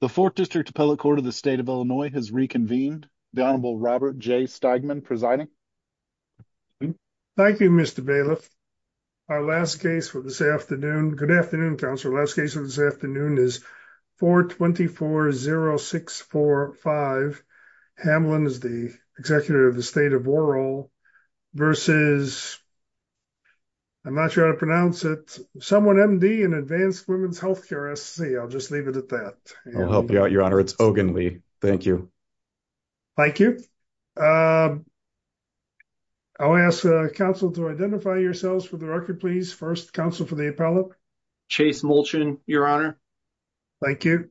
The 4th District Appellate Court of the State of Illinois has reconvened. The Honorable Robert J. Steigman presiding. Thank you, Mr. Bailiff. Our last case for this afternoon. Good afternoon, Counselor. Last case for this afternoon is 424-0645. Hamlin is the Executive of the State of Whorrall versus... I'm not sure how to pronounce it. Someone MD in Advanced Women's Healthcare, SC. I'll just leave it at that. I'll help you out, Your Honor. It's Ogin Lee. Thank you. Thank you. I'll ask the Counsel to identify yourselves for the record, please. First, Counsel for the Appellate. Chase Mulchin, Your Honor. Thank you.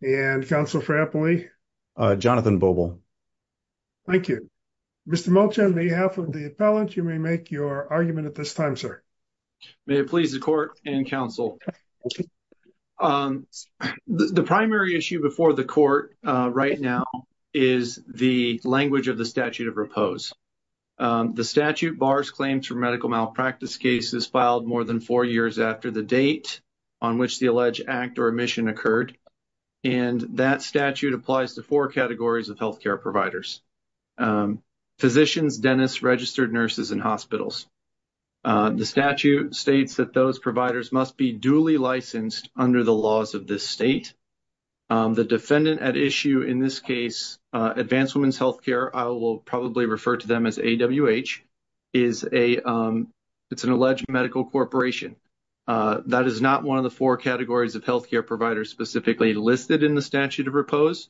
And Counsel for Appellee? Jonathan Bobel. Thank you. Mr. Mulchin, on behalf of the Appellant, you may make your argument at this time, sir. May it please the Court and Counsel. The primary issue before the Court right now is the language of the statute of repose. The statute bars claims for medical malpractice cases filed more than four years after the date on which the alleged act or omission occurred. And that statute applies to four categories of healthcare providers, physicians, dentists, registered nurses and hospitals. The statute states that those providers must be duly licensed under the laws of this state. The defendant at issue in this case, Advanced Women's Healthcare, I will probably refer to them as AWH, is a — it's an alleged medical corporation. That is not one of the four categories of healthcare providers specifically listed in the statute of repose.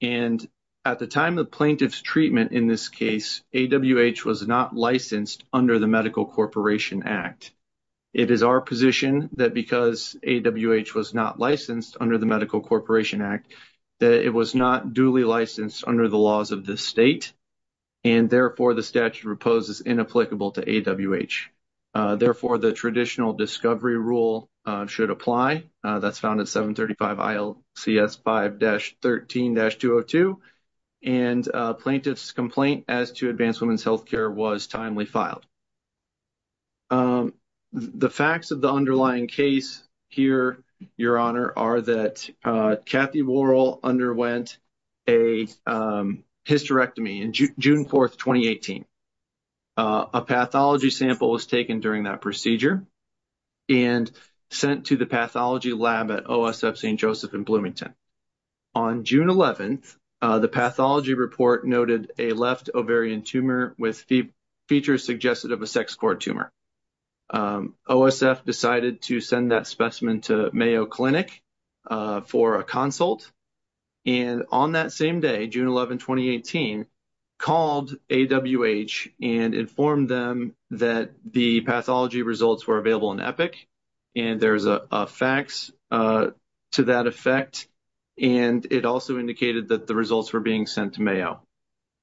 And at the time of plaintiff's treatment in this case, AWH was not licensed under the Medical Corporation Act. It is our position that because AWH was not licensed under the Medical Corporation Act, that it was not duly licensed under the laws of this state. And therefore, the statute of repose is inapplicable to AWH. Therefore, the traditional discovery rule should apply. That's found at 735 ILCS 5-13-202. And plaintiff's complaint as to Advanced Women's Healthcare was timely filed. The facts of the underlying case here, Your Honor, are that Kathy Worrell underwent a hysterectomy in June 4, 2018. A pathology sample was taken during that procedure and sent to the pathology lab at OSF St. Joseph in Bloomington. On June 11, the pathology report noted a left ovarian tumor with features suggested of a sex core tumor. OSF decided to send that specimen to Mayo Clinic for a consult. And on that same day, June 11, 2018, called AWH and informed them that the pathology results were available in Epic. And there's a fax to that effect. And it also indicated that the results were being sent to Mayo.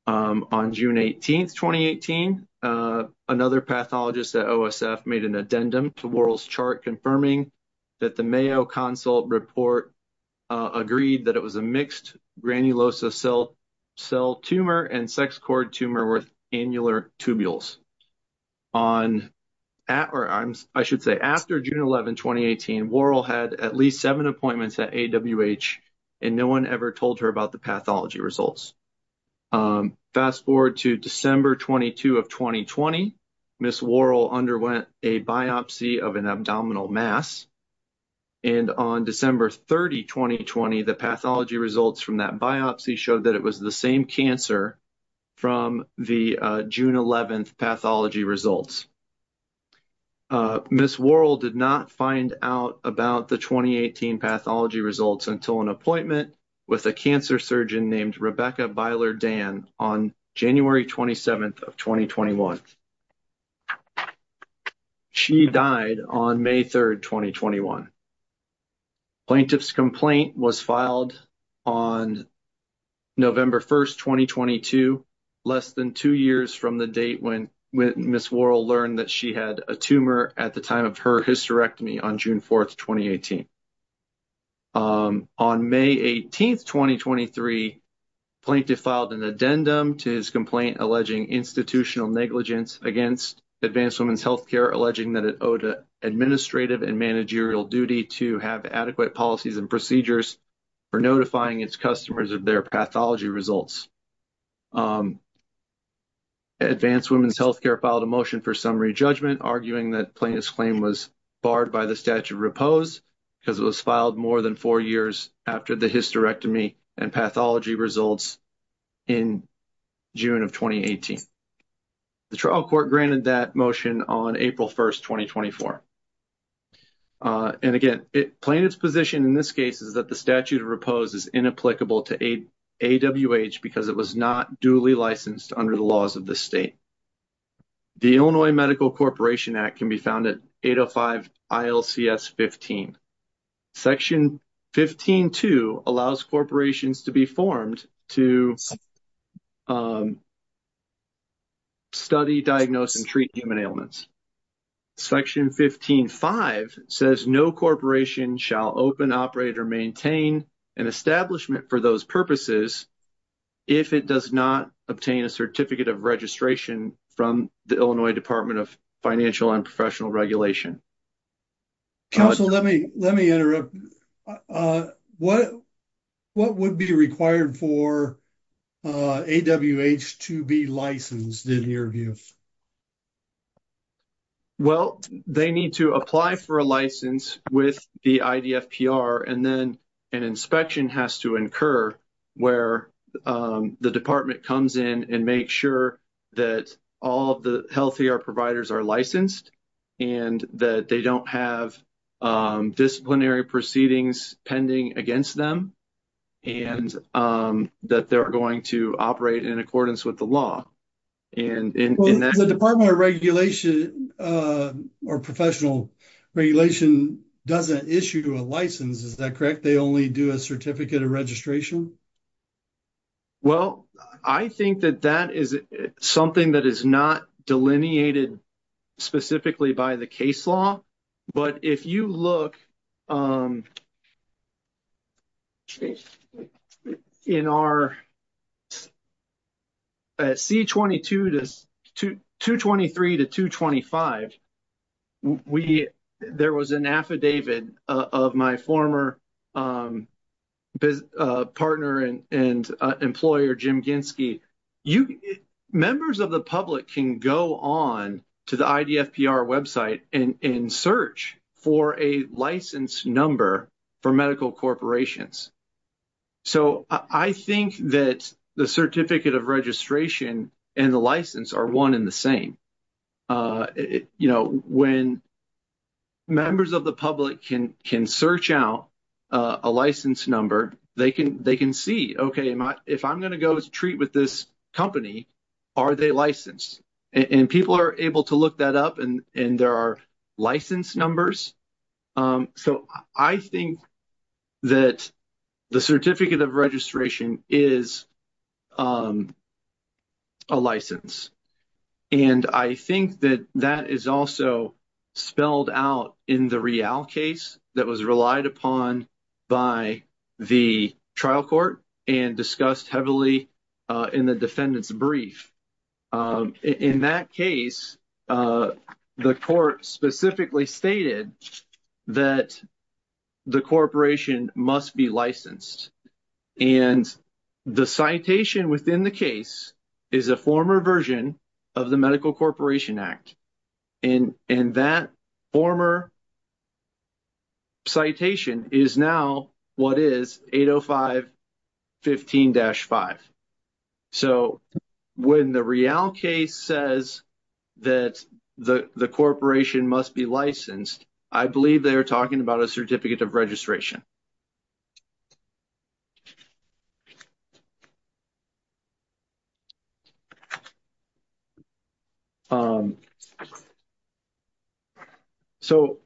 On June 18, 2018, another pathologist at OSF made an addendum to Worrell's chart confirming that the Mayo consult report agreed that it was a mixed granulosa cell tumor and sex core tumor with annular tubules. I should say after June 11, 2018, Worrell had at least seven appointments at AWH and no one ever told her about the pathology results. Fast forward to December 22 of 2020, Ms. Worrell underwent a biopsy of an abdominal mass. And on December 30, 2020, the pathology results from that biopsy showed that it was the same cancer from the June 11th pathology results. Ms. Worrell did not find out about the 2018 pathology results until an appointment with a cancer surgeon named Rebecca Byler-Dan on January 27th of 2021. She died on May 3rd, 2021. Plaintiff's complaint was filed on November 1st, 2022, less than two years from the date when Ms. Worrell learned that she had a tumor at the time of her hysterectomy on June 4th, 2018. On May 18th, 2023, plaintiff filed an addendum to his complaint alleging institutional negligence against Advanced Women's Healthcare, alleging that it owed administrative and managerial duty to have adequate policies and procedures for notifying its customers of their pathology results. Advanced Women's Healthcare filed a motion for summary judgment arguing that plaintiff's claim was barred by the statute of repose because it was filed more than four years after the hysterectomy and pathology results in June of 2018. The trial court granted that motion on April 1st, 2024. And again, plaintiff's position in this case is that the statute of repose is inapplicable to AWH because it was not duly licensed under the laws of the state. The Illinois Medical Corporation Act can be found at 805 ILCS 15. Section 15.2 allows corporations to be formed to study, diagnose and treat human ailments. Section 15.5 says no corporation shall open, operate or maintain an establishment for those purposes if it does not obtain a certificate of registration from the Illinois Department of Financial and Professional Regulation. Council, let me interrupt. What would be required for AWH to be licensed in your view? Well, they need to apply for a license with the IDFPR, and then an inspection has to incur where the department comes in and make sure that all of the healthcare providers are licensed and that they don't have disciplinary proceedings pending against them and that they're going to operate in accordance with the law. The Department of Regulation or Professional Regulation doesn't issue a license, is that correct? They only do a certificate of registration? Well, I think that that is something that is not delineated specifically by the case law. But if you look in our C-22 to 223 to 225, we – there was an affidavit of my former partner and employer, Jim Ginsky. Members of the public can go on to the IDFPR website and search for a license number for medical corporations. So I think that the certificate of registration and the license are one in the same. You know, when members of the public can search out a license number, they can see, okay, if I'm going to go to treat with this company, are they licensed? And people are able to look that up and there are license numbers. So I think that the certificate of registration is a license. And I think that that is also spelled out in the Rial case that was relied upon by the trial court and discussed heavily in the defendant's brief. In that case, the court specifically stated that the corporation must be licensed. And the citation within the case is a former version of the Medical Corporation Act. And that former citation is now what is 805.15-5. So when the Rial case says that the corporation must be licensed, I believe they are talking about a certificate of registration. So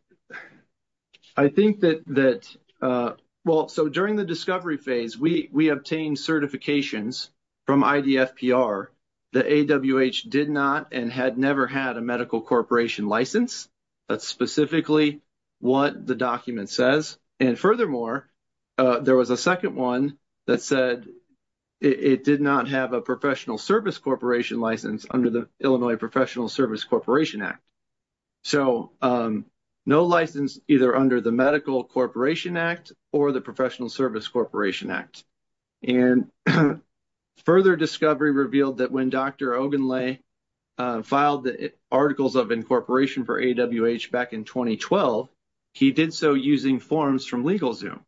I think that that well, so during the discovery phase, we obtained certifications from IDFPR. The AWH did not and had never had a Medical Corporation license. That's specifically what the document says. And furthermore, there was a second one that said it did not have a Professional Service Corporation license under the Illinois Professional Service Corporation Act. So no license either under the Medical Corporation Act or the Professional Service Corporation Act. And further discovery revealed that when Dr. Ogunle filed the articles of incorporation for AWH back in 2012, he did so using forms from LegalZoom.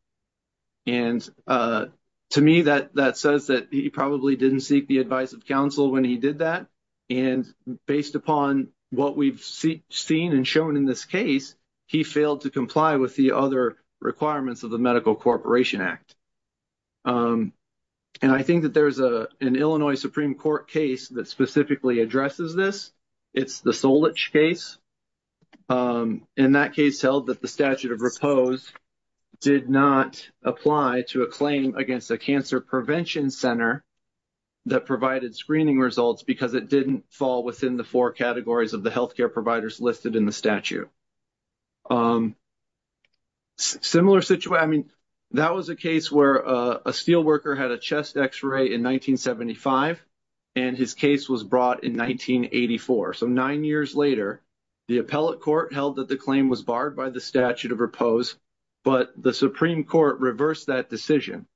And to me, that says that he probably didn't seek the advice of counsel when he did that. And based upon what we've seen and shown in this case, he failed to comply with the other requirements of the Medical Corporation Act. And I think that there's an Illinois Supreme Court case that specifically addresses this. It's the Solich case. And that case held that the statute of repose did not apply to a claim against a cancer prevention center that provided screening results because it didn't fall within the four categories of the healthcare providers listed in the statute. Similar situation, I mean, that was a case where a steelworker had a chest x-ray in 1975, and his case was brought in 1984. So nine years later, the appellate court held that the claim was barred by the statute of repose, but the Supreme Court reversed that decision.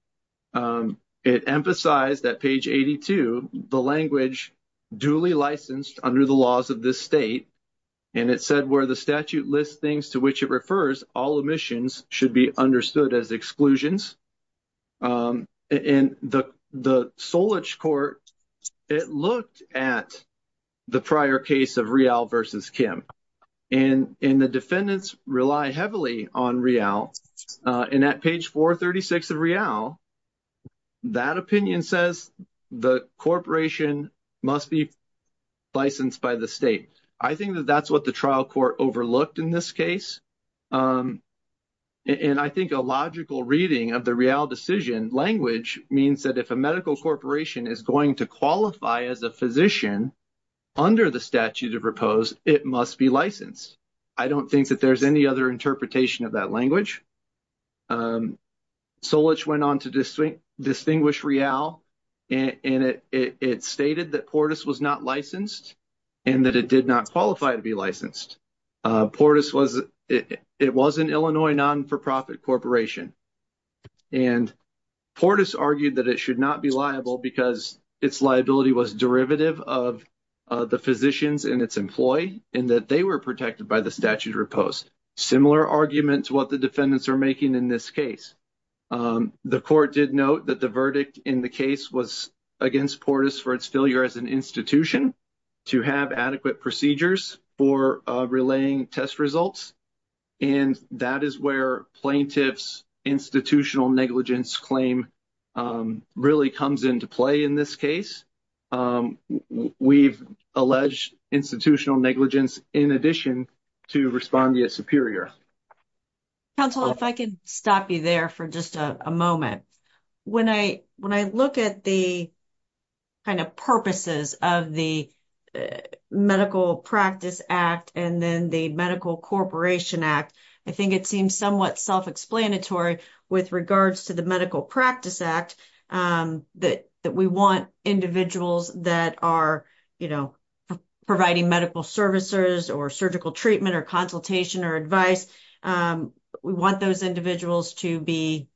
It emphasized that page 82, the language duly licensed under the laws of this state, and it said where the statute lists things to which it refers, all omissions should be understood as exclusions. In the Solich court, it looked at the prior case of Real versus Kim. And the defendants rely heavily on Real. And at page 436 of Real, that opinion says the corporation must be licensed by the state. I think that that's what the trial court overlooked in this case. And I think a logical reading of the Real decision language means that if a medical corporation is going to qualify as a physician under the statute of repose, it must be licensed. I don't think that there's any other interpretation of that language. Solich went on to distinguish Real, and it stated that Portis was not licensed and that it did not qualify to be licensed. Portis was an Illinois non-for-profit corporation. And Portis argued that it should not be liable because its liability was derivative of the physicians and its employee and that they were protected by the statute of repose. Similar argument to what the defendants are making in this case. The court did note that the verdict in the case was against Portis for its failure as an institution to have adequate procedures for relaying test results. And that is where plaintiff's institutional negligence claim really comes into play in this case. We've alleged institutional negligence in addition to respond to your superior. Counsel, if I can stop you there for just a moment. When I when I look at the kind of purposes of the Medical Practice Act and then the Medical Corporation Act, I think it seems somewhat self-explanatory with regards to the Medical Practice Act that we want individuals that are, you know, providing medical services or surgical treatment or consultation or advice. We want those individuals to be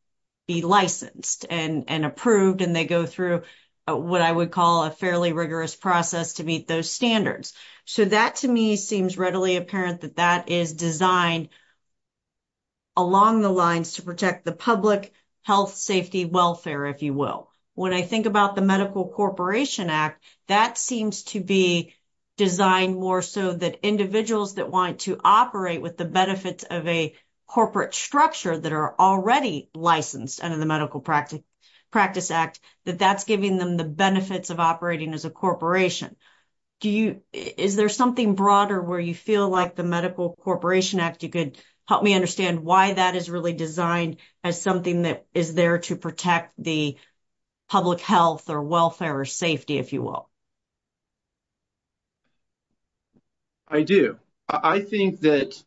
licensed and approved. And they go through what I would call a fairly rigorous process to meet those standards. So that to me seems readily apparent that that is designed along the lines to protect the public health, safety, welfare, if you will. When I think about the Medical Corporation Act, that seems to be designed more so that individuals that want to operate with the benefits of a corporate structure that are already licensed under the Medical Practice Act, that that's giving them the benefits of operating as a corporation. Do you, is there something broader where you feel like the Medical Corporation Act, you could help me understand why that is really designed as something that is there to protect the public health or welfare or safety, if you will? I do. I think that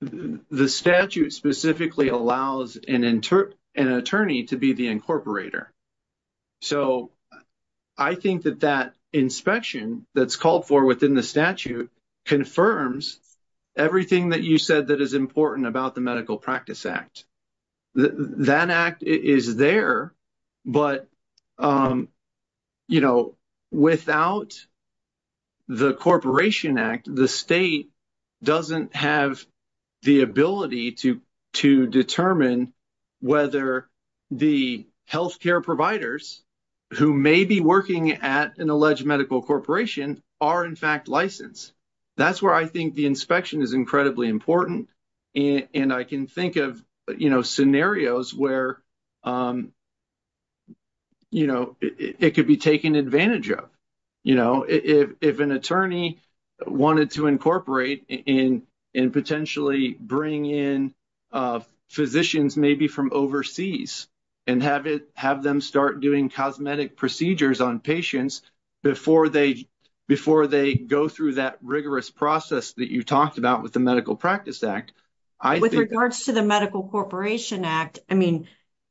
the statute specifically allows an attorney to be the incorporator. So I think that that inspection that's called for within the statute confirms everything that you said that is important about the Medical Practice Act. That act is there, but, you know, without the Corporation Act, the state doesn't have the ability to determine whether the health care providers who may be working at an alleged medical corporation are in fact licensed. That's where I think the inspection is incredibly important. And I can think of, you know, scenarios where, you know, it could be taken advantage of. You know, if an attorney wanted to incorporate and potentially bring in physicians maybe from overseas and have them start doing cosmetic procedures on patients before they go through that rigorous process that you talked about with the Medical Practice Act. With regards to the Medical Corporation Act, I mean,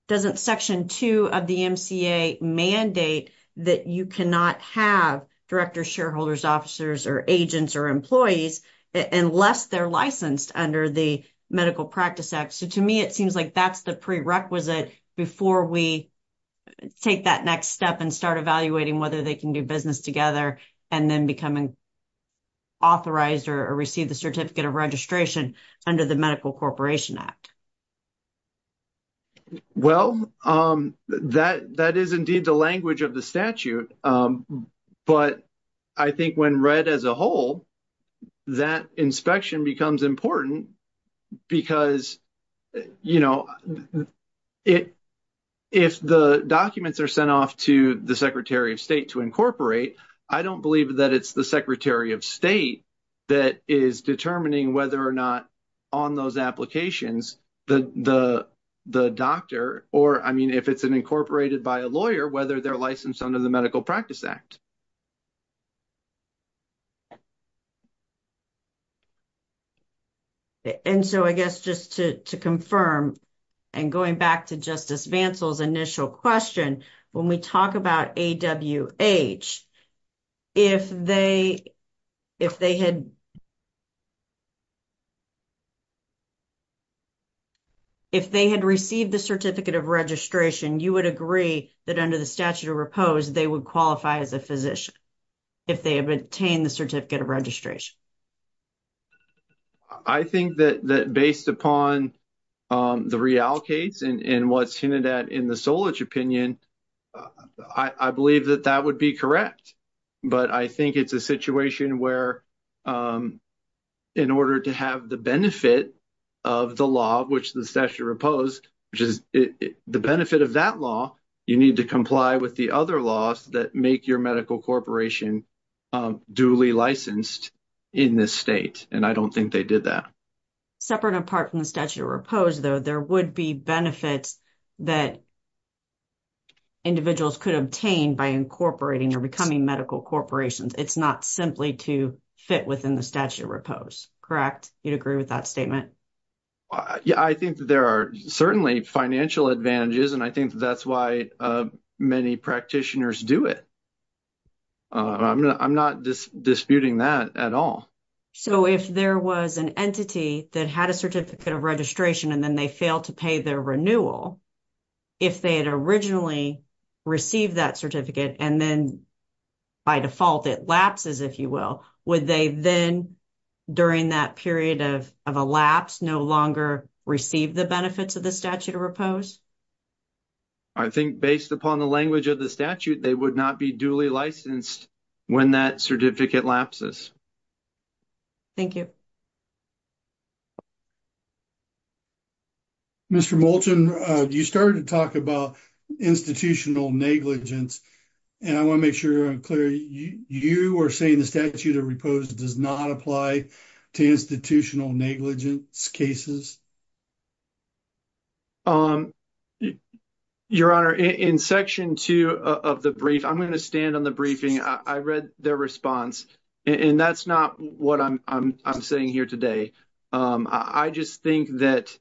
doesn't Section 2 of the MCA mandate that you cannot have directors, shareholders, officers or agents or employees unless they're licensed under the Medical Practice Act? So to me, it seems like that's the prerequisite before we take that next step and start evaluating whether they can do business together and then becoming authorized or receive the Certificate of Registration under the Medical Corporation Act. Well, that is indeed the language of the statute. But I think when read as a whole, that inspection becomes important because, you know, if the documents are sent off to the Secretary of State to incorporate, I don't believe that it's the Secretary of State that is determining whether or not on those applications the doctor or, I mean, if it's incorporated by a lawyer, whether they're licensed under the Medical Practice Act. And so I guess just to confirm and going back to Justice Vancell's initial question, when we talk about AWH, if they had received the Certificate of Registration, you would agree that under the statute of repose they would qualify as a physician if they obtained the Certificate of Registration? I think that based upon the real case and what's hinted at in the Solich opinion, I believe that that would be correct. But I think it's a situation where in order to have the benefit of the law, which the statute of repose, which is the benefit of that law, you need to comply with the other laws that make your medical corporation duly licensed. And I don't think they did that. Separate and apart from the statute of repose, though, there would be benefits that individuals could obtain by incorporating or becoming medical corporations. It's not simply to fit within the statute of repose, correct? You'd agree with that statement? Yeah, I think there are certainly financial advantages, and I think that's why many practitioners do it. I'm not disputing that at all. So if there was an entity that had a Certificate of Registration and then they failed to pay their renewal, if they had originally received that certificate and then by default it lapses, if you will, would they then, during that period of a lapse, no longer receive the benefits of the statute of repose? I think based upon the language of the statute, they would not be duly licensed when that certificate lapses. Thank you. Mr. Moulton, you started to talk about institutional negligence, and I want to make sure I'm clear. You are saying the statute of repose does not apply to institutional negligence cases? Your Honor, in Section 2 of the brief, I'm going to stand on the briefing. I read their response, and that's not what I'm saying here today. I just think that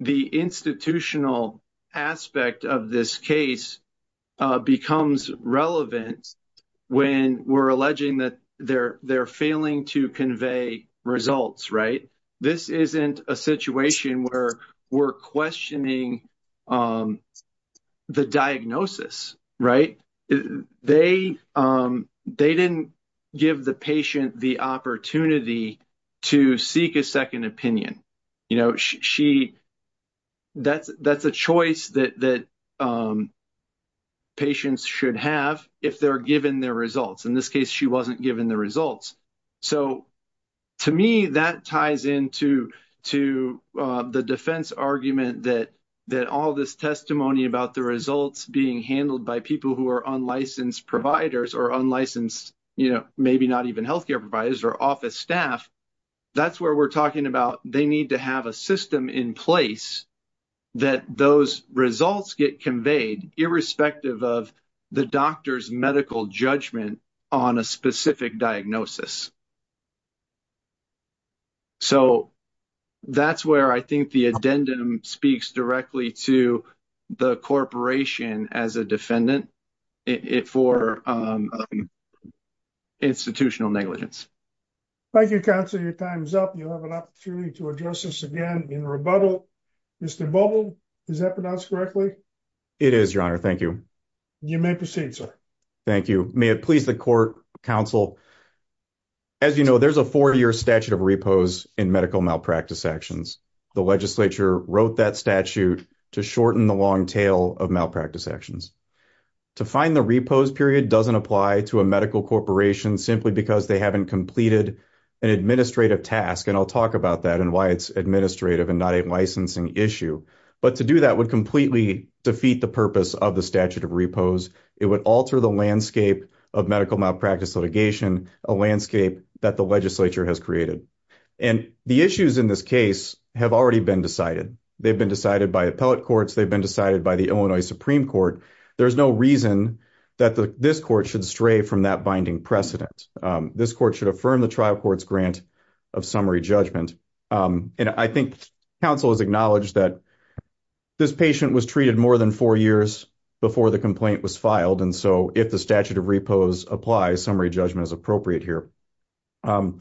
the institutional aspect of this case becomes relevant when we're alleging that they're failing to convey results, right? This isn't a situation where we're questioning the diagnosis, right? They didn't give the patient the opportunity to seek a second opinion. You know, that's a choice that patients should have if they're given their results. In this case, she wasn't given the results. So to me, that ties into the defense argument that all this testimony about the results being handled by people who are unlicensed providers or unlicensed, you know, maybe not even healthcare providers or office staff, that's where we're talking about they need to have a system in place that those results get conveyed irrespective of the doctor's medical judgment on a specific diagnosis. So that's where I think the addendum speaks directly to the corporation as a defendant for institutional negligence. Thank you, counsel. Your time's up. You have an opportunity to address us again in rebuttal. Mr. Bubble, is that pronounced correctly? It is, your honor. Thank you. You may proceed, sir. Thank you. May it please the court, counsel. As you know, there's a four-year statute of repose in medical malpractice actions. The legislature wrote that statute to shorten the long tail of malpractice actions. To find the repose period doesn't apply to a medical corporation simply because they haven't completed an administrative task. And I'll talk about that and why it's administrative and not a licensing issue. But to do that would completely defeat the purpose of the statute of repose. It would alter the landscape of medical malpractice litigation, a landscape that the legislature has created. And the issues in this case have already been decided. They've been decided by appellate courts. They've been decided by the Illinois Supreme Court. There's no reason that this court should stray from that binding precedent. This court should affirm the trial court's grant of summary judgment. And I think counsel has acknowledged that this patient was treated more than four years before the complaint was filed. And so if the statute of repose applies, summary judgment is appropriate here. I'm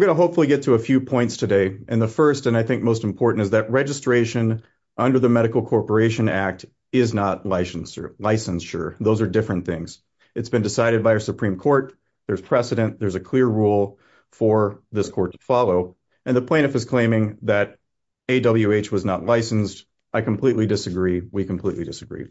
going to hopefully get to a few points today. And the first and I think most important is that registration under the Medical Corporation Act is not licensure. Those are different things. It's been decided by our Supreme Court. There's precedent. There's a clear rule for this court to follow. And the plaintiff is claiming that AWH was not licensed. I completely disagree. We completely disagree.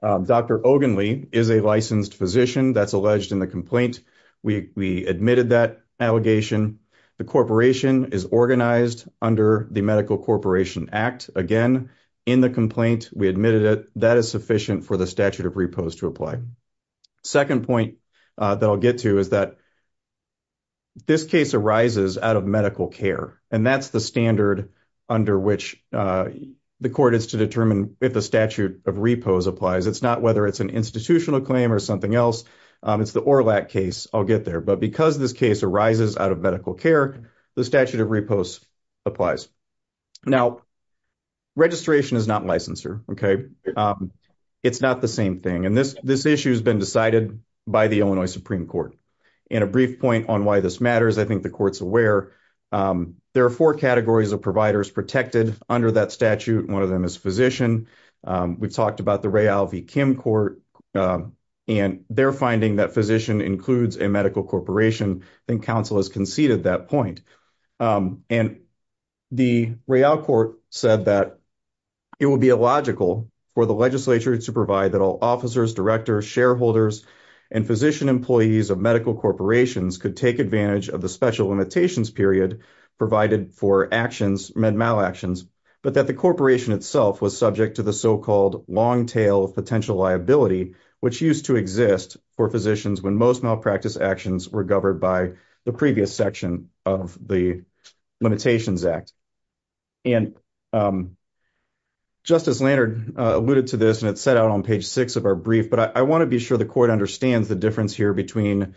Dr. Ogenle is a licensed physician that's alleged in the complaint. We admitted that allegation. The corporation is organized under the Medical Corporation Act. Again, in the complaint, we admitted it. That is sufficient for the statute of repose to apply. Second point that I'll get to is that this case arises out of medical care. And that's the standard under which the court is to determine if the statute of repose applies. It's not whether it's an institutional claim or something else. It's the ORLAC case. I'll get there. But because this case arises out of medical care, the statute of repose applies. Now, registration is not licensure. It's not the same thing. And this issue has been decided by the Illinois Supreme Court. And a brief point on why this matters, I think the court's aware. There are four categories of providers protected under that statute. One of them is physician. We've talked about the Ray Alvey Kim court. And they're finding that physician includes a medical corporation. I think counsel has conceded that point. And the Ray Alcourt said that it would be illogical for the legislature to provide that all officers, directors, shareholders, and physician employees of medical corporations could take advantage of the special limitations period provided for actions, med mal actions, but that the corporation itself was subject to the so-called long tail of potential liability, which used to exist for physicians when most malpractice actions were governed by the previous section of the Limitations Act. And Justice Leonard alluded to this, and it's set out on page six of our brief, but I want to be sure the court understands the difference here between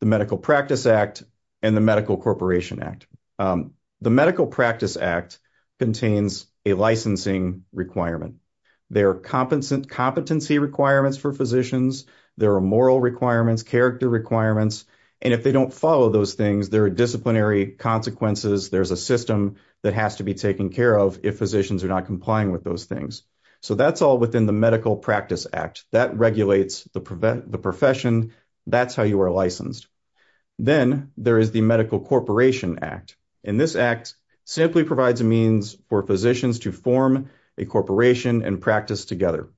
the Medical Practice Act and the Medical Corporation Act. The Medical Practice Act contains a licensing requirement. There are competency requirements for physicians. There are moral requirements, character requirements. And if they don't follow those things, there are disciplinary consequences. There's a system that has to be taken care of if physicians are not complying with those things. So that's all within the Medical Practice Act. That regulates the profession. That's how you are licensed. Then there is the Medical Corporation Act. And this act simply provides a means for physicians to form a corporation and practice together.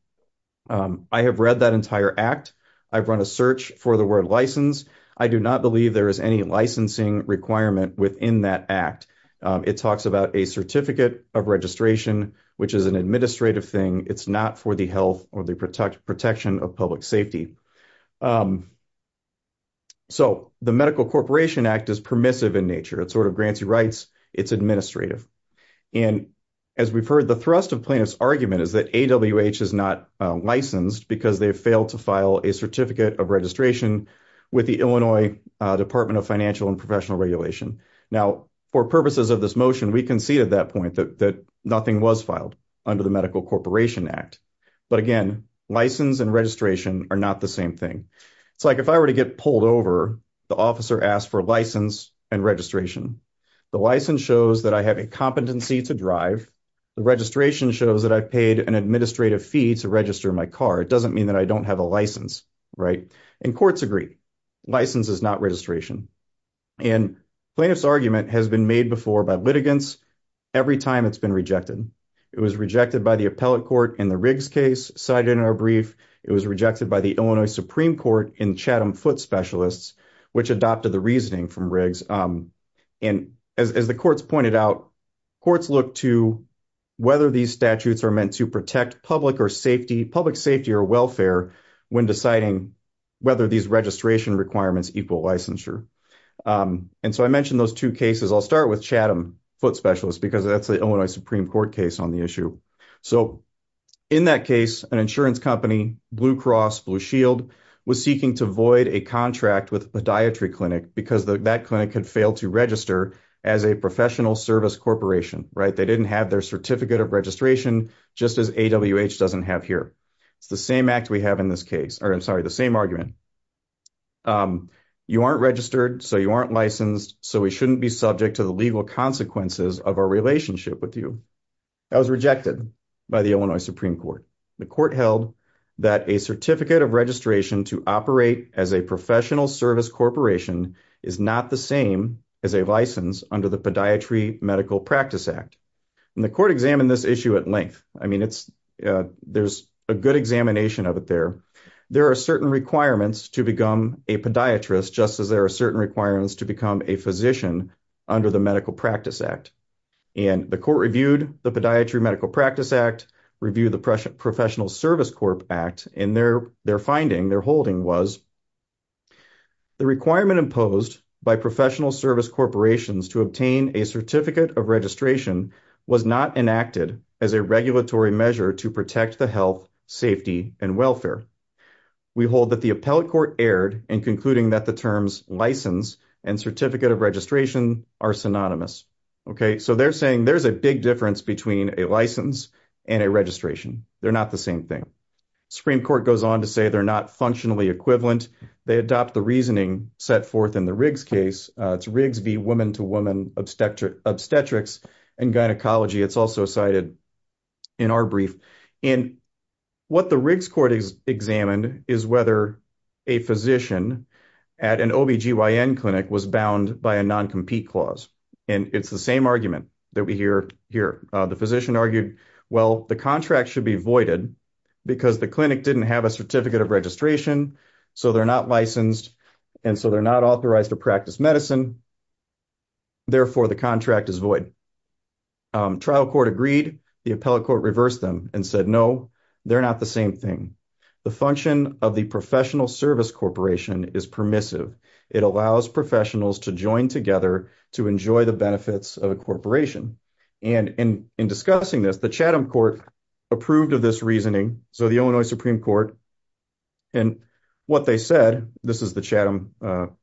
I have read that entire act. I've run a search for the word license. I do not believe there is any licensing requirement within that act. It talks about a certificate of registration, which is an administrative thing. It's not for the health or the protection of public safety. So the Medical Corporation Act is permissive in nature. It sort of grants you rights. It's administrative. And as we've heard, the thrust of plaintiff's argument is that AWH is not licensed because they failed to file a certificate of registration with the Illinois Department of Financial and Professional Regulation. Now, for purposes of this motion, we concede at that point that nothing was filed under the Medical Corporation Act. But again, license and registration are not the same thing. It's like if I were to get pulled over, the officer asked for license and registration. The license shows that I have a competency to drive. The registration shows that I've paid an administrative fee to register my car. It doesn't mean that I don't have a license, right? And courts agree. License is not registration. And plaintiff's argument has been made before by litigants every time it's been rejected. It was rejected by the appellate court in the Riggs case cited in our brief. It was rejected by the Illinois Supreme Court in Chatham Foot Specialists, which adopted the reasoning from Riggs. And as the courts pointed out, courts look to whether these statutes are meant to protect public or safety, public safety or welfare when deciding whether these registration requirements equal licensure. And so I mentioned those two cases. I'll start with Chatham Foot Specialists because that's the Illinois Supreme Court case on the issue. So in that case, an insurance company, Blue Cross Blue Shield, was seeking to void a contract with a podiatry clinic because that clinic had failed to register as a professional service corporation, right? They didn't have their certificate of registration, just as AWH doesn't have here. It's the same act we have in this case. Or I'm sorry, the same argument. You aren't registered, so you aren't licensed, so we shouldn't be subject to the legal consequences of our relationship with you. That was rejected by the Illinois Supreme Court. The court held that a certificate of registration to operate as a professional service corporation is not the same as a license under the Podiatry Medical Practice Act. And the court examined this issue at length. I mean, there's a good examination of it there. There are certain requirements to become a podiatrist, just as there are certain requirements to become a physician under the Medical Practice Act. And the court reviewed the Podiatry Medical Practice Act, reviewed the Professional Service Corp Act, and their finding, their holding was, the requirement imposed by professional service corporations to obtain a certificate of registration was not enacted as a regulatory measure to protect the health, safety, and welfare. We hold that the appellate court erred in concluding that the terms license and certificate of registration are synonymous. Okay, so they're saying there's a big difference between a license and a registration. They're not the same thing. Supreme Court goes on to say they're not functionally equivalent. They adopt the reasoning set forth in the Riggs case. It's Riggs v. woman-to-woman obstetrics and gynecology. It's also cited in our brief. And what the Riggs court examined is whether a physician at an OBGYN clinic was bound by a non-compete clause. And it's the same argument that we hear here. The physician argued, well, the contract should be voided because the clinic didn't have a certificate of registration, so they're not licensed, and so they're not authorized to practice medicine. Therefore, the contract is void. Trial court agreed. The appellate court reversed them and said, no, they're not the same thing. The function of the professional service corporation is permissive. It allows professionals to join together to enjoy the benefits of a corporation. And in discussing this, the Chatham court approved of this reasoning. So the Illinois Supreme Court, in what they said, this is the Chatham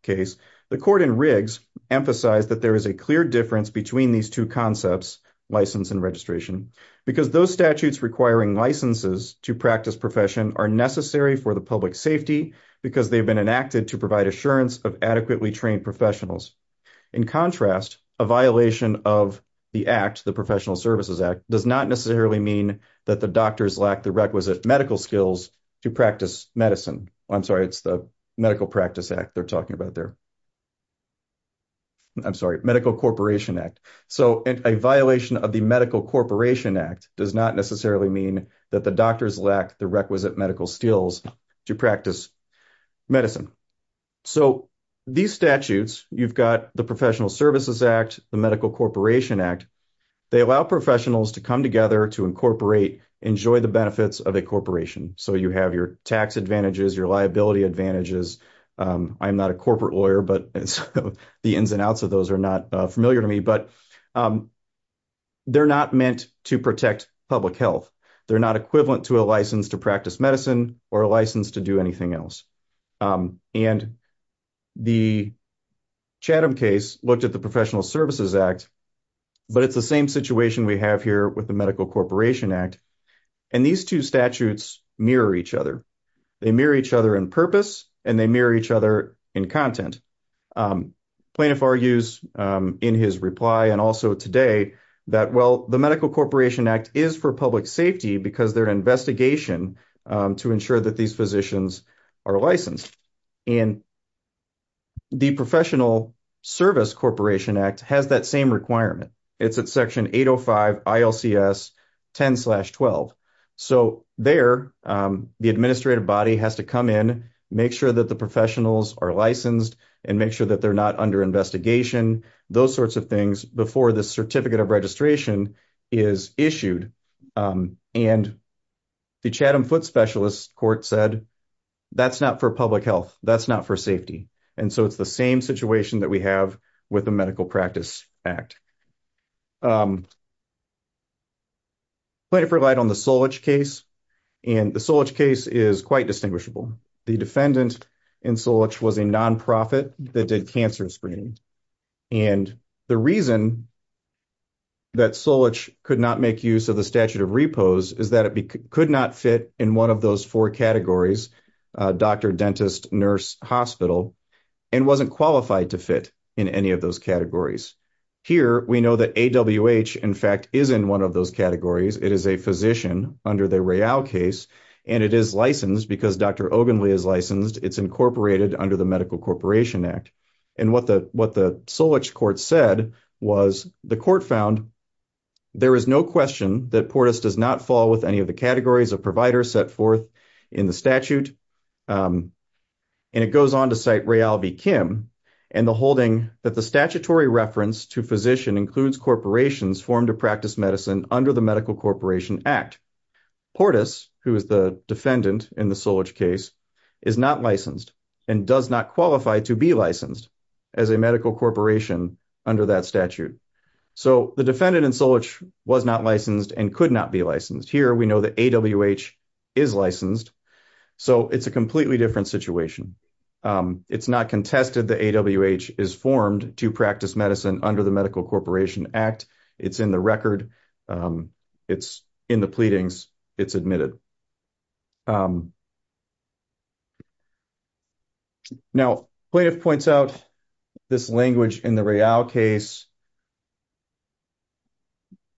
case, the court in Riggs emphasized that there is a clear difference between these two concepts, license and registration, because those statutes requiring licenses to practice profession are necessary for the public safety because they've been enacted to provide assurance of adequately trained professionals. In contrast, a violation of the act, the Professional Services Act, does not necessarily mean that the doctors lack the requisite medical skills to practice medicine. I'm sorry, it's the Medical Practice Act they're talking about there. I'm sorry, Medical Corporation Act. So a violation of the Medical Corporation Act does not necessarily mean that the doctors lack the requisite medical skills to practice medicine. So these statutes, you've got the Professional Services Act, the Medical Corporation Act. They allow professionals to come together to incorporate, enjoy the benefits of a corporation. So you have your tax advantages, your liability advantages. I'm not a corporate lawyer, but the ins and outs of those are not familiar to me, but they're not meant to protect public health. They're not equivalent to a license to practice medicine or a license to do anything else. And the Chatham case looked at the Professional Services Act, but it's the same situation we have here with the Medical Corporation Act. And these two statutes mirror each other. They mirror each other in purpose and they mirror each other in content. Plaintiff argues in his reply and also today that, well, the Medical Corporation Act is for public safety because they're an investigation to ensure that these physicians are licensed. And the Professional Service Corporation Act has that same requirement. It's at Section 805 ILCS 10-12. So there, the administrative body has to come in, make sure that the professionals are licensed and make sure that they're not under investigation. Those sorts of things before the certificate of registration is issued. And the Chatham Foot Specialist Court said that's not for public health, that's not for safety. And so it's the same situation that we have with the Medical Practice Act. Plaintiff relied on the Solich case, and the Solich case is quite distinguishable. The defendant in Solich was a nonprofit that did cancer screening. And the reason that Solich could not make use of the statute of repose is that it could not fit in one of those four categories, doctor, dentist, nurse, hospital, and wasn't qualified to fit in any of those categories. Here, we know that AWH, in fact, is in one of those categories. It is a physician under the Royale case, and it is licensed because Dr. Ogenle is licensed. It's incorporated under the Medical Corporation Act. And what the Solich court said was the court found there is no question that PORTUS does not fall with any of the categories of providers set forth in the statute. And it goes on to cite Royale v. Kim in the holding that the statutory reference to physician includes corporations formed to practice medicine under the Medical Corporation Act. PORTUS, who is the defendant in the Solich case, is not licensed and does not qualify to be licensed as a medical corporation under that statute. So the defendant in Solich was not licensed and could not be licensed. Here, we know that AWH is licensed. So it's a completely different situation. It's not contested that AWH is formed to practice medicine under the Medical Corporation Act. It's in the record. It's in the pleadings. It's admitted. Now, Plaintiff points out this language in the Royale case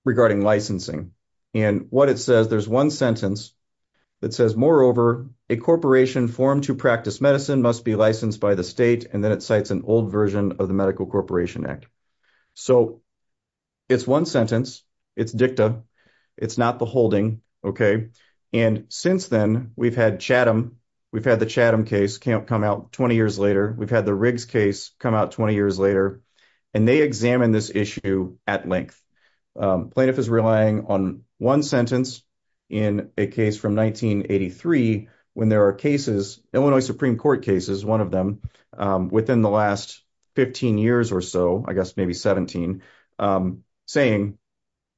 regarding licensing. And what it says, there's one sentence that says, moreover, a corporation formed to practice medicine must be licensed by the state. And then it cites an old version of the Medical Corporation Act. So it's one sentence. It's dicta. It's not the holding. And since then, we've had Chatham. We've had the Chatham case come out 20 years later. We've had the Riggs case come out 20 years later. And they examined this issue at length. Plaintiff is relying on one sentence in a case from 1983 when there are cases, Illinois Supreme Court cases, one of them, within the last 15 years or so, I guess maybe 17, saying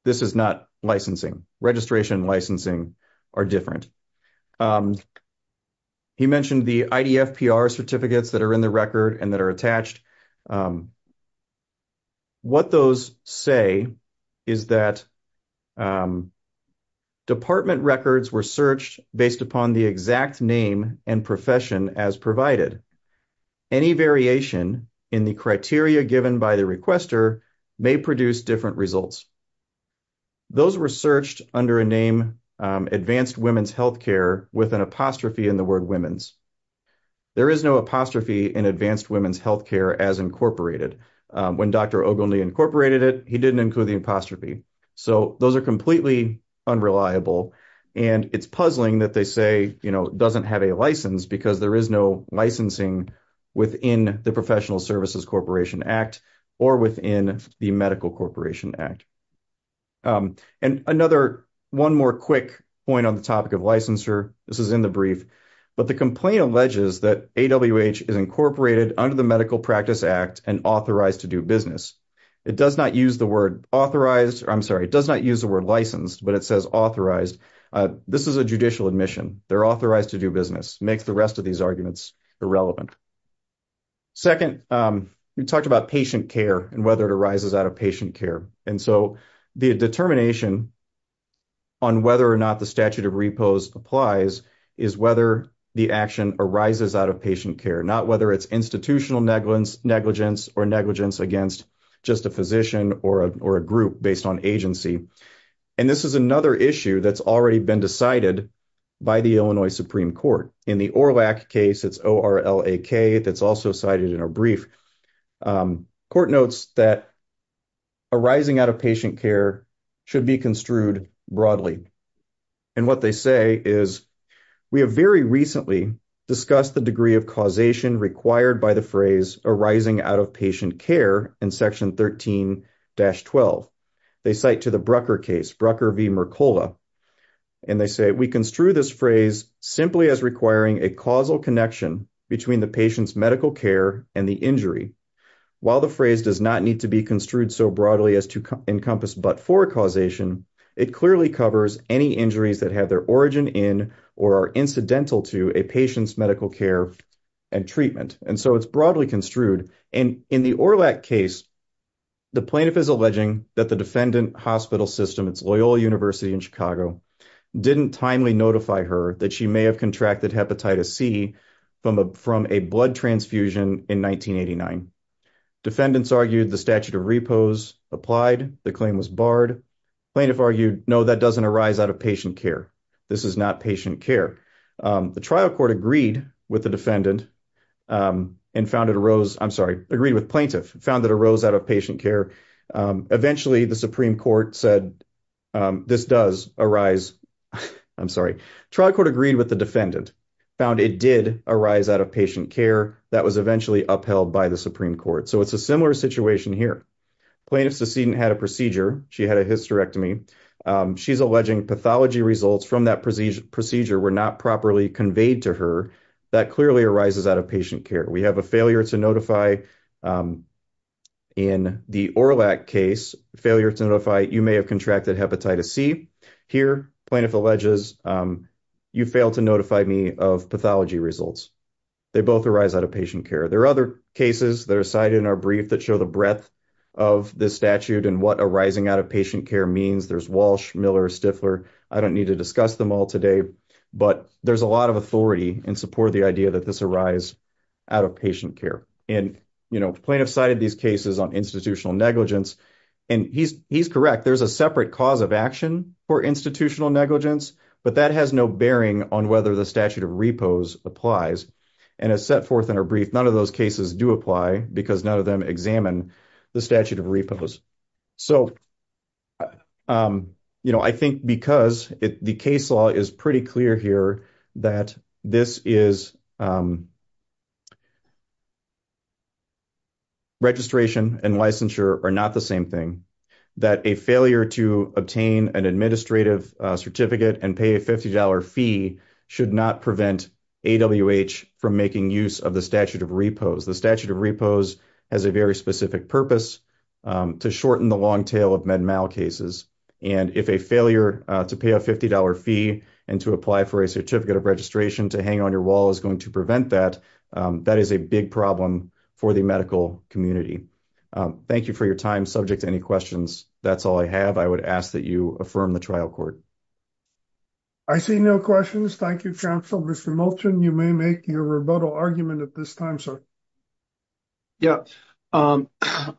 this is not licensing. Registration and licensing are different. He mentioned the IDFPR certificates that are in the record and that are attached. What those say is that department records were searched based upon the exact name and profession as provided. Any variation in the criteria given by the requester may produce different results. Those were searched under a name, Advanced Women's Health Care, with an apostrophe in the word women's. There is no apostrophe in Advanced Women's Health Care as incorporated. When Dr. Ogilney incorporated it, he didn't include the apostrophe. So those are completely unreliable. And it's puzzling that they say, you know, doesn't have a license because there is no licensing within the Professional Services Corporation Act or within the Medical Corporation Act. And another one more quick point on the topic of licensure. This is in the brief. But the complaint alleges that AWH is incorporated under the Medical Practice Act and authorized to do business. It does not use the word authorized. I'm sorry, it does not use the word licensed, but it says authorized. This is a judicial admission. They're authorized to do business. Makes the rest of these arguments irrelevant. Second, we talked about patient care and whether it arises out of patient care. And so the determination on whether or not the statute of repose applies is whether the action arises out of patient care, not whether it's institutional negligence or negligence against just a physician or a group based on agency. And this is another issue that's already been decided by the Illinois Supreme Court. In the ORLAC case, it's O-R-L-A-K, that's also cited in our brief. Court notes that arising out of patient care should be construed broadly. And what they say is, we have very recently discussed the degree of causation required by the phrase arising out of patient care in Section 13-12. They cite to the Brucker case, Brucker v. Mercola. And they say, we construe this phrase simply as requiring a causal connection between the patient's medical care and the injury. While the phrase does not need to be construed so broadly as to encompass but for causation, it clearly covers any injuries that have their origin in or are incidental to a patient's medical care and treatment. And so it's broadly construed. And in the ORLAC case, the plaintiff is alleging that the defendant hospital system, it's Loyola University in Chicago, didn't timely notify her that she may have contracted hepatitis C from a blood transfusion in 1989. Defendants argued the statute of repose applied. The claim was barred. Plaintiff argued, no, that doesn't arise out of patient care. This is not patient care. The trial court agreed with the defendant and found it arose. I'm sorry, agreed with plaintiff, found that arose out of patient care. Eventually, the Supreme Court said this does arise. I'm sorry. Trial court agreed with the defendant, found it did arise out of patient care. That was eventually upheld by the Supreme Court. So it's a similar situation here. Plaintiff's decedent had a procedure. She had a hysterectomy. She's alleging pathology results from that procedure were not properly conveyed to her. That clearly arises out of patient care. We have a failure to notify in the ORLAC case, failure to notify you may have contracted hepatitis C. Here, plaintiff alleges you failed to notify me of pathology results. They both arise out of patient care. There are other cases that are cited in our brief that show the breadth of this statute and what arising out of patient care means. There's Walsh, Miller, Stifler. I don't need to discuss them all today. But there's a lot of authority in support of the idea that this arise out of patient care. And, you know, plaintiff cited these cases on institutional negligence. And he's correct. There's a separate cause of action for institutional negligence. But that has no bearing on whether the statute of repose applies. And as set forth in our brief, none of those cases do apply because none of them examine the statute of repose. So, you know, I think because the case law is pretty clear here that this is registration and licensure are not the same thing. That a failure to obtain an administrative certificate and pay a $50 fee should not prevent AWH from making use of the statute of repose. The statute of repose has a very specific purpose, to shorten the long tail of MedMal cases. And if a failure to pay a $50 fee and to apply for a certificate of registration to hang on your wall is going to prevent that, that is a big problem for the medical community. Thank you for your time. Subject to any questions. That's all I have. I would ask that you affirm the trial court. I see no questions. Thank you, counsel. Mr. Moulton, you may make your rebuttal argument at this time, sir. Yeah, I'm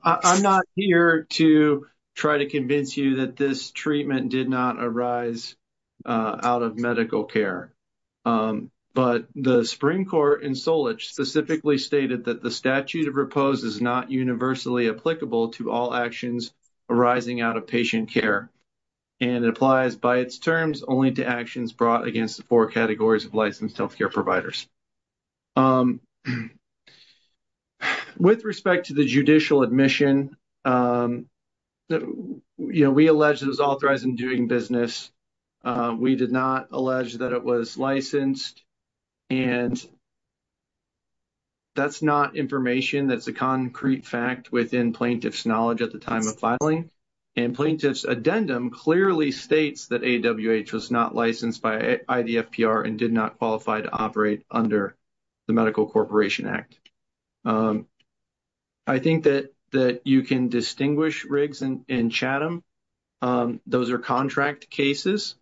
not here to try to convince you that this treatment did not arise out of medical care. But the Supreme Court in Solich specifically stated that the statute of repose is not universally applicable to all actions arising out of patient care. And it applies by its terms only to actions brought against the four categories of licensed healthcare providers. With respect to the judicial admission, you know, we allege it was authorized in doing business. We did not allege that it was licensed. And that's not information that's a concrete fact within plaintiff's knowledge at the time of filing. And plaintiff's addendum clearly states that AWH was not licensed by IDFPR and did not qualify to operate under the Medical Corporation Act. I think that you can distinguish Riggs and Chatham. Those are contract cases.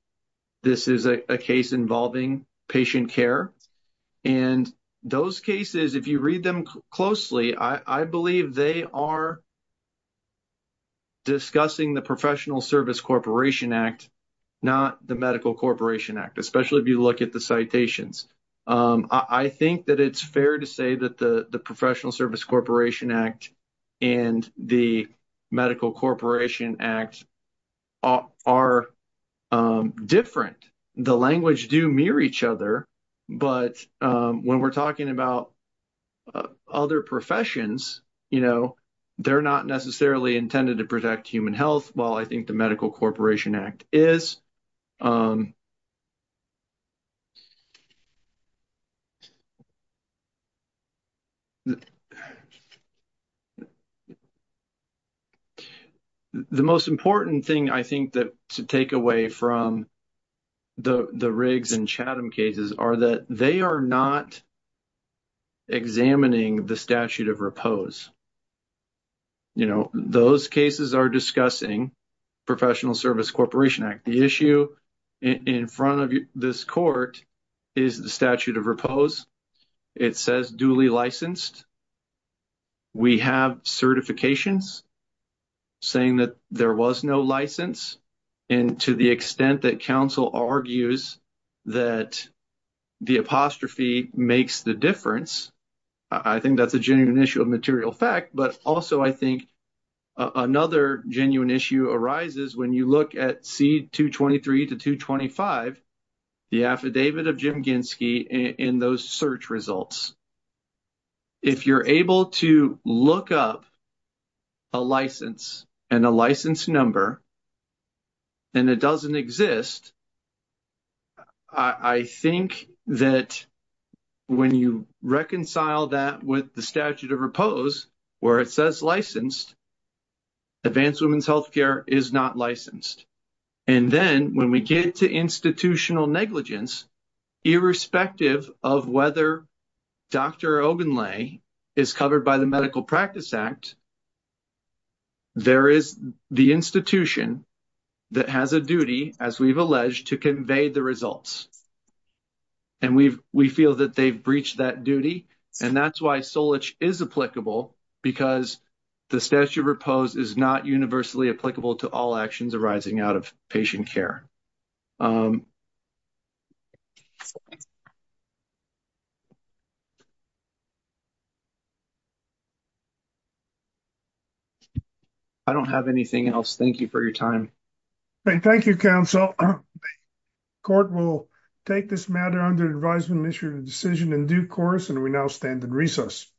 This is a case involving patient care. And those cases, if you read them closely, I believe they are discussing the Professional Service Corporation Act, not the Medical Corporation Act, especially if you look at the citations. I think that it's fair to say that the Professional Service Corporation Act and the Medical Corporation Act are different. The language do mirror each other. But when we're talking about other professions, you know, they're not necessarily intended to protect human health, while I think the Medical Corporation Act is. The most important thing I think that to take away from the Riggs and Chatham cases are that they are not examining the statute of repose. You know, those cases are discussing Professional Service Corporation Act. The issue in front of this court is the statute of repose. It says duly licensed. We have certifications saying that there was no license. And to the extent that counsel argues that the apostrophe makes the difference, I think that's a genuine issue of material fact. But also I think another genuine issue arises when you look at C-223 to 225, the affidavit of Jim Ginsky in those search results. If you're able to look up a license and a license number and it doesn't exist, I think that when you reconcile that with the statute of repose where it says licensed, Advanced Women's Health Care is not licensed. And then when we get to institutional negligence, irrespective of whether Dr. Ogunle is covered by the Medical Practice Act, there is the institution that has a duty, as we've alleged, to convey the results. And we feel that they've breached that duty. And that's why Solich is applicable, because the statute of repose is not universally applicable to all actions arising out of patient care. I don't have anything else. Thank you for your time. Thank you, counsel. The court will take this matter under advisement and issue a decision in due course, and we now stand in recess.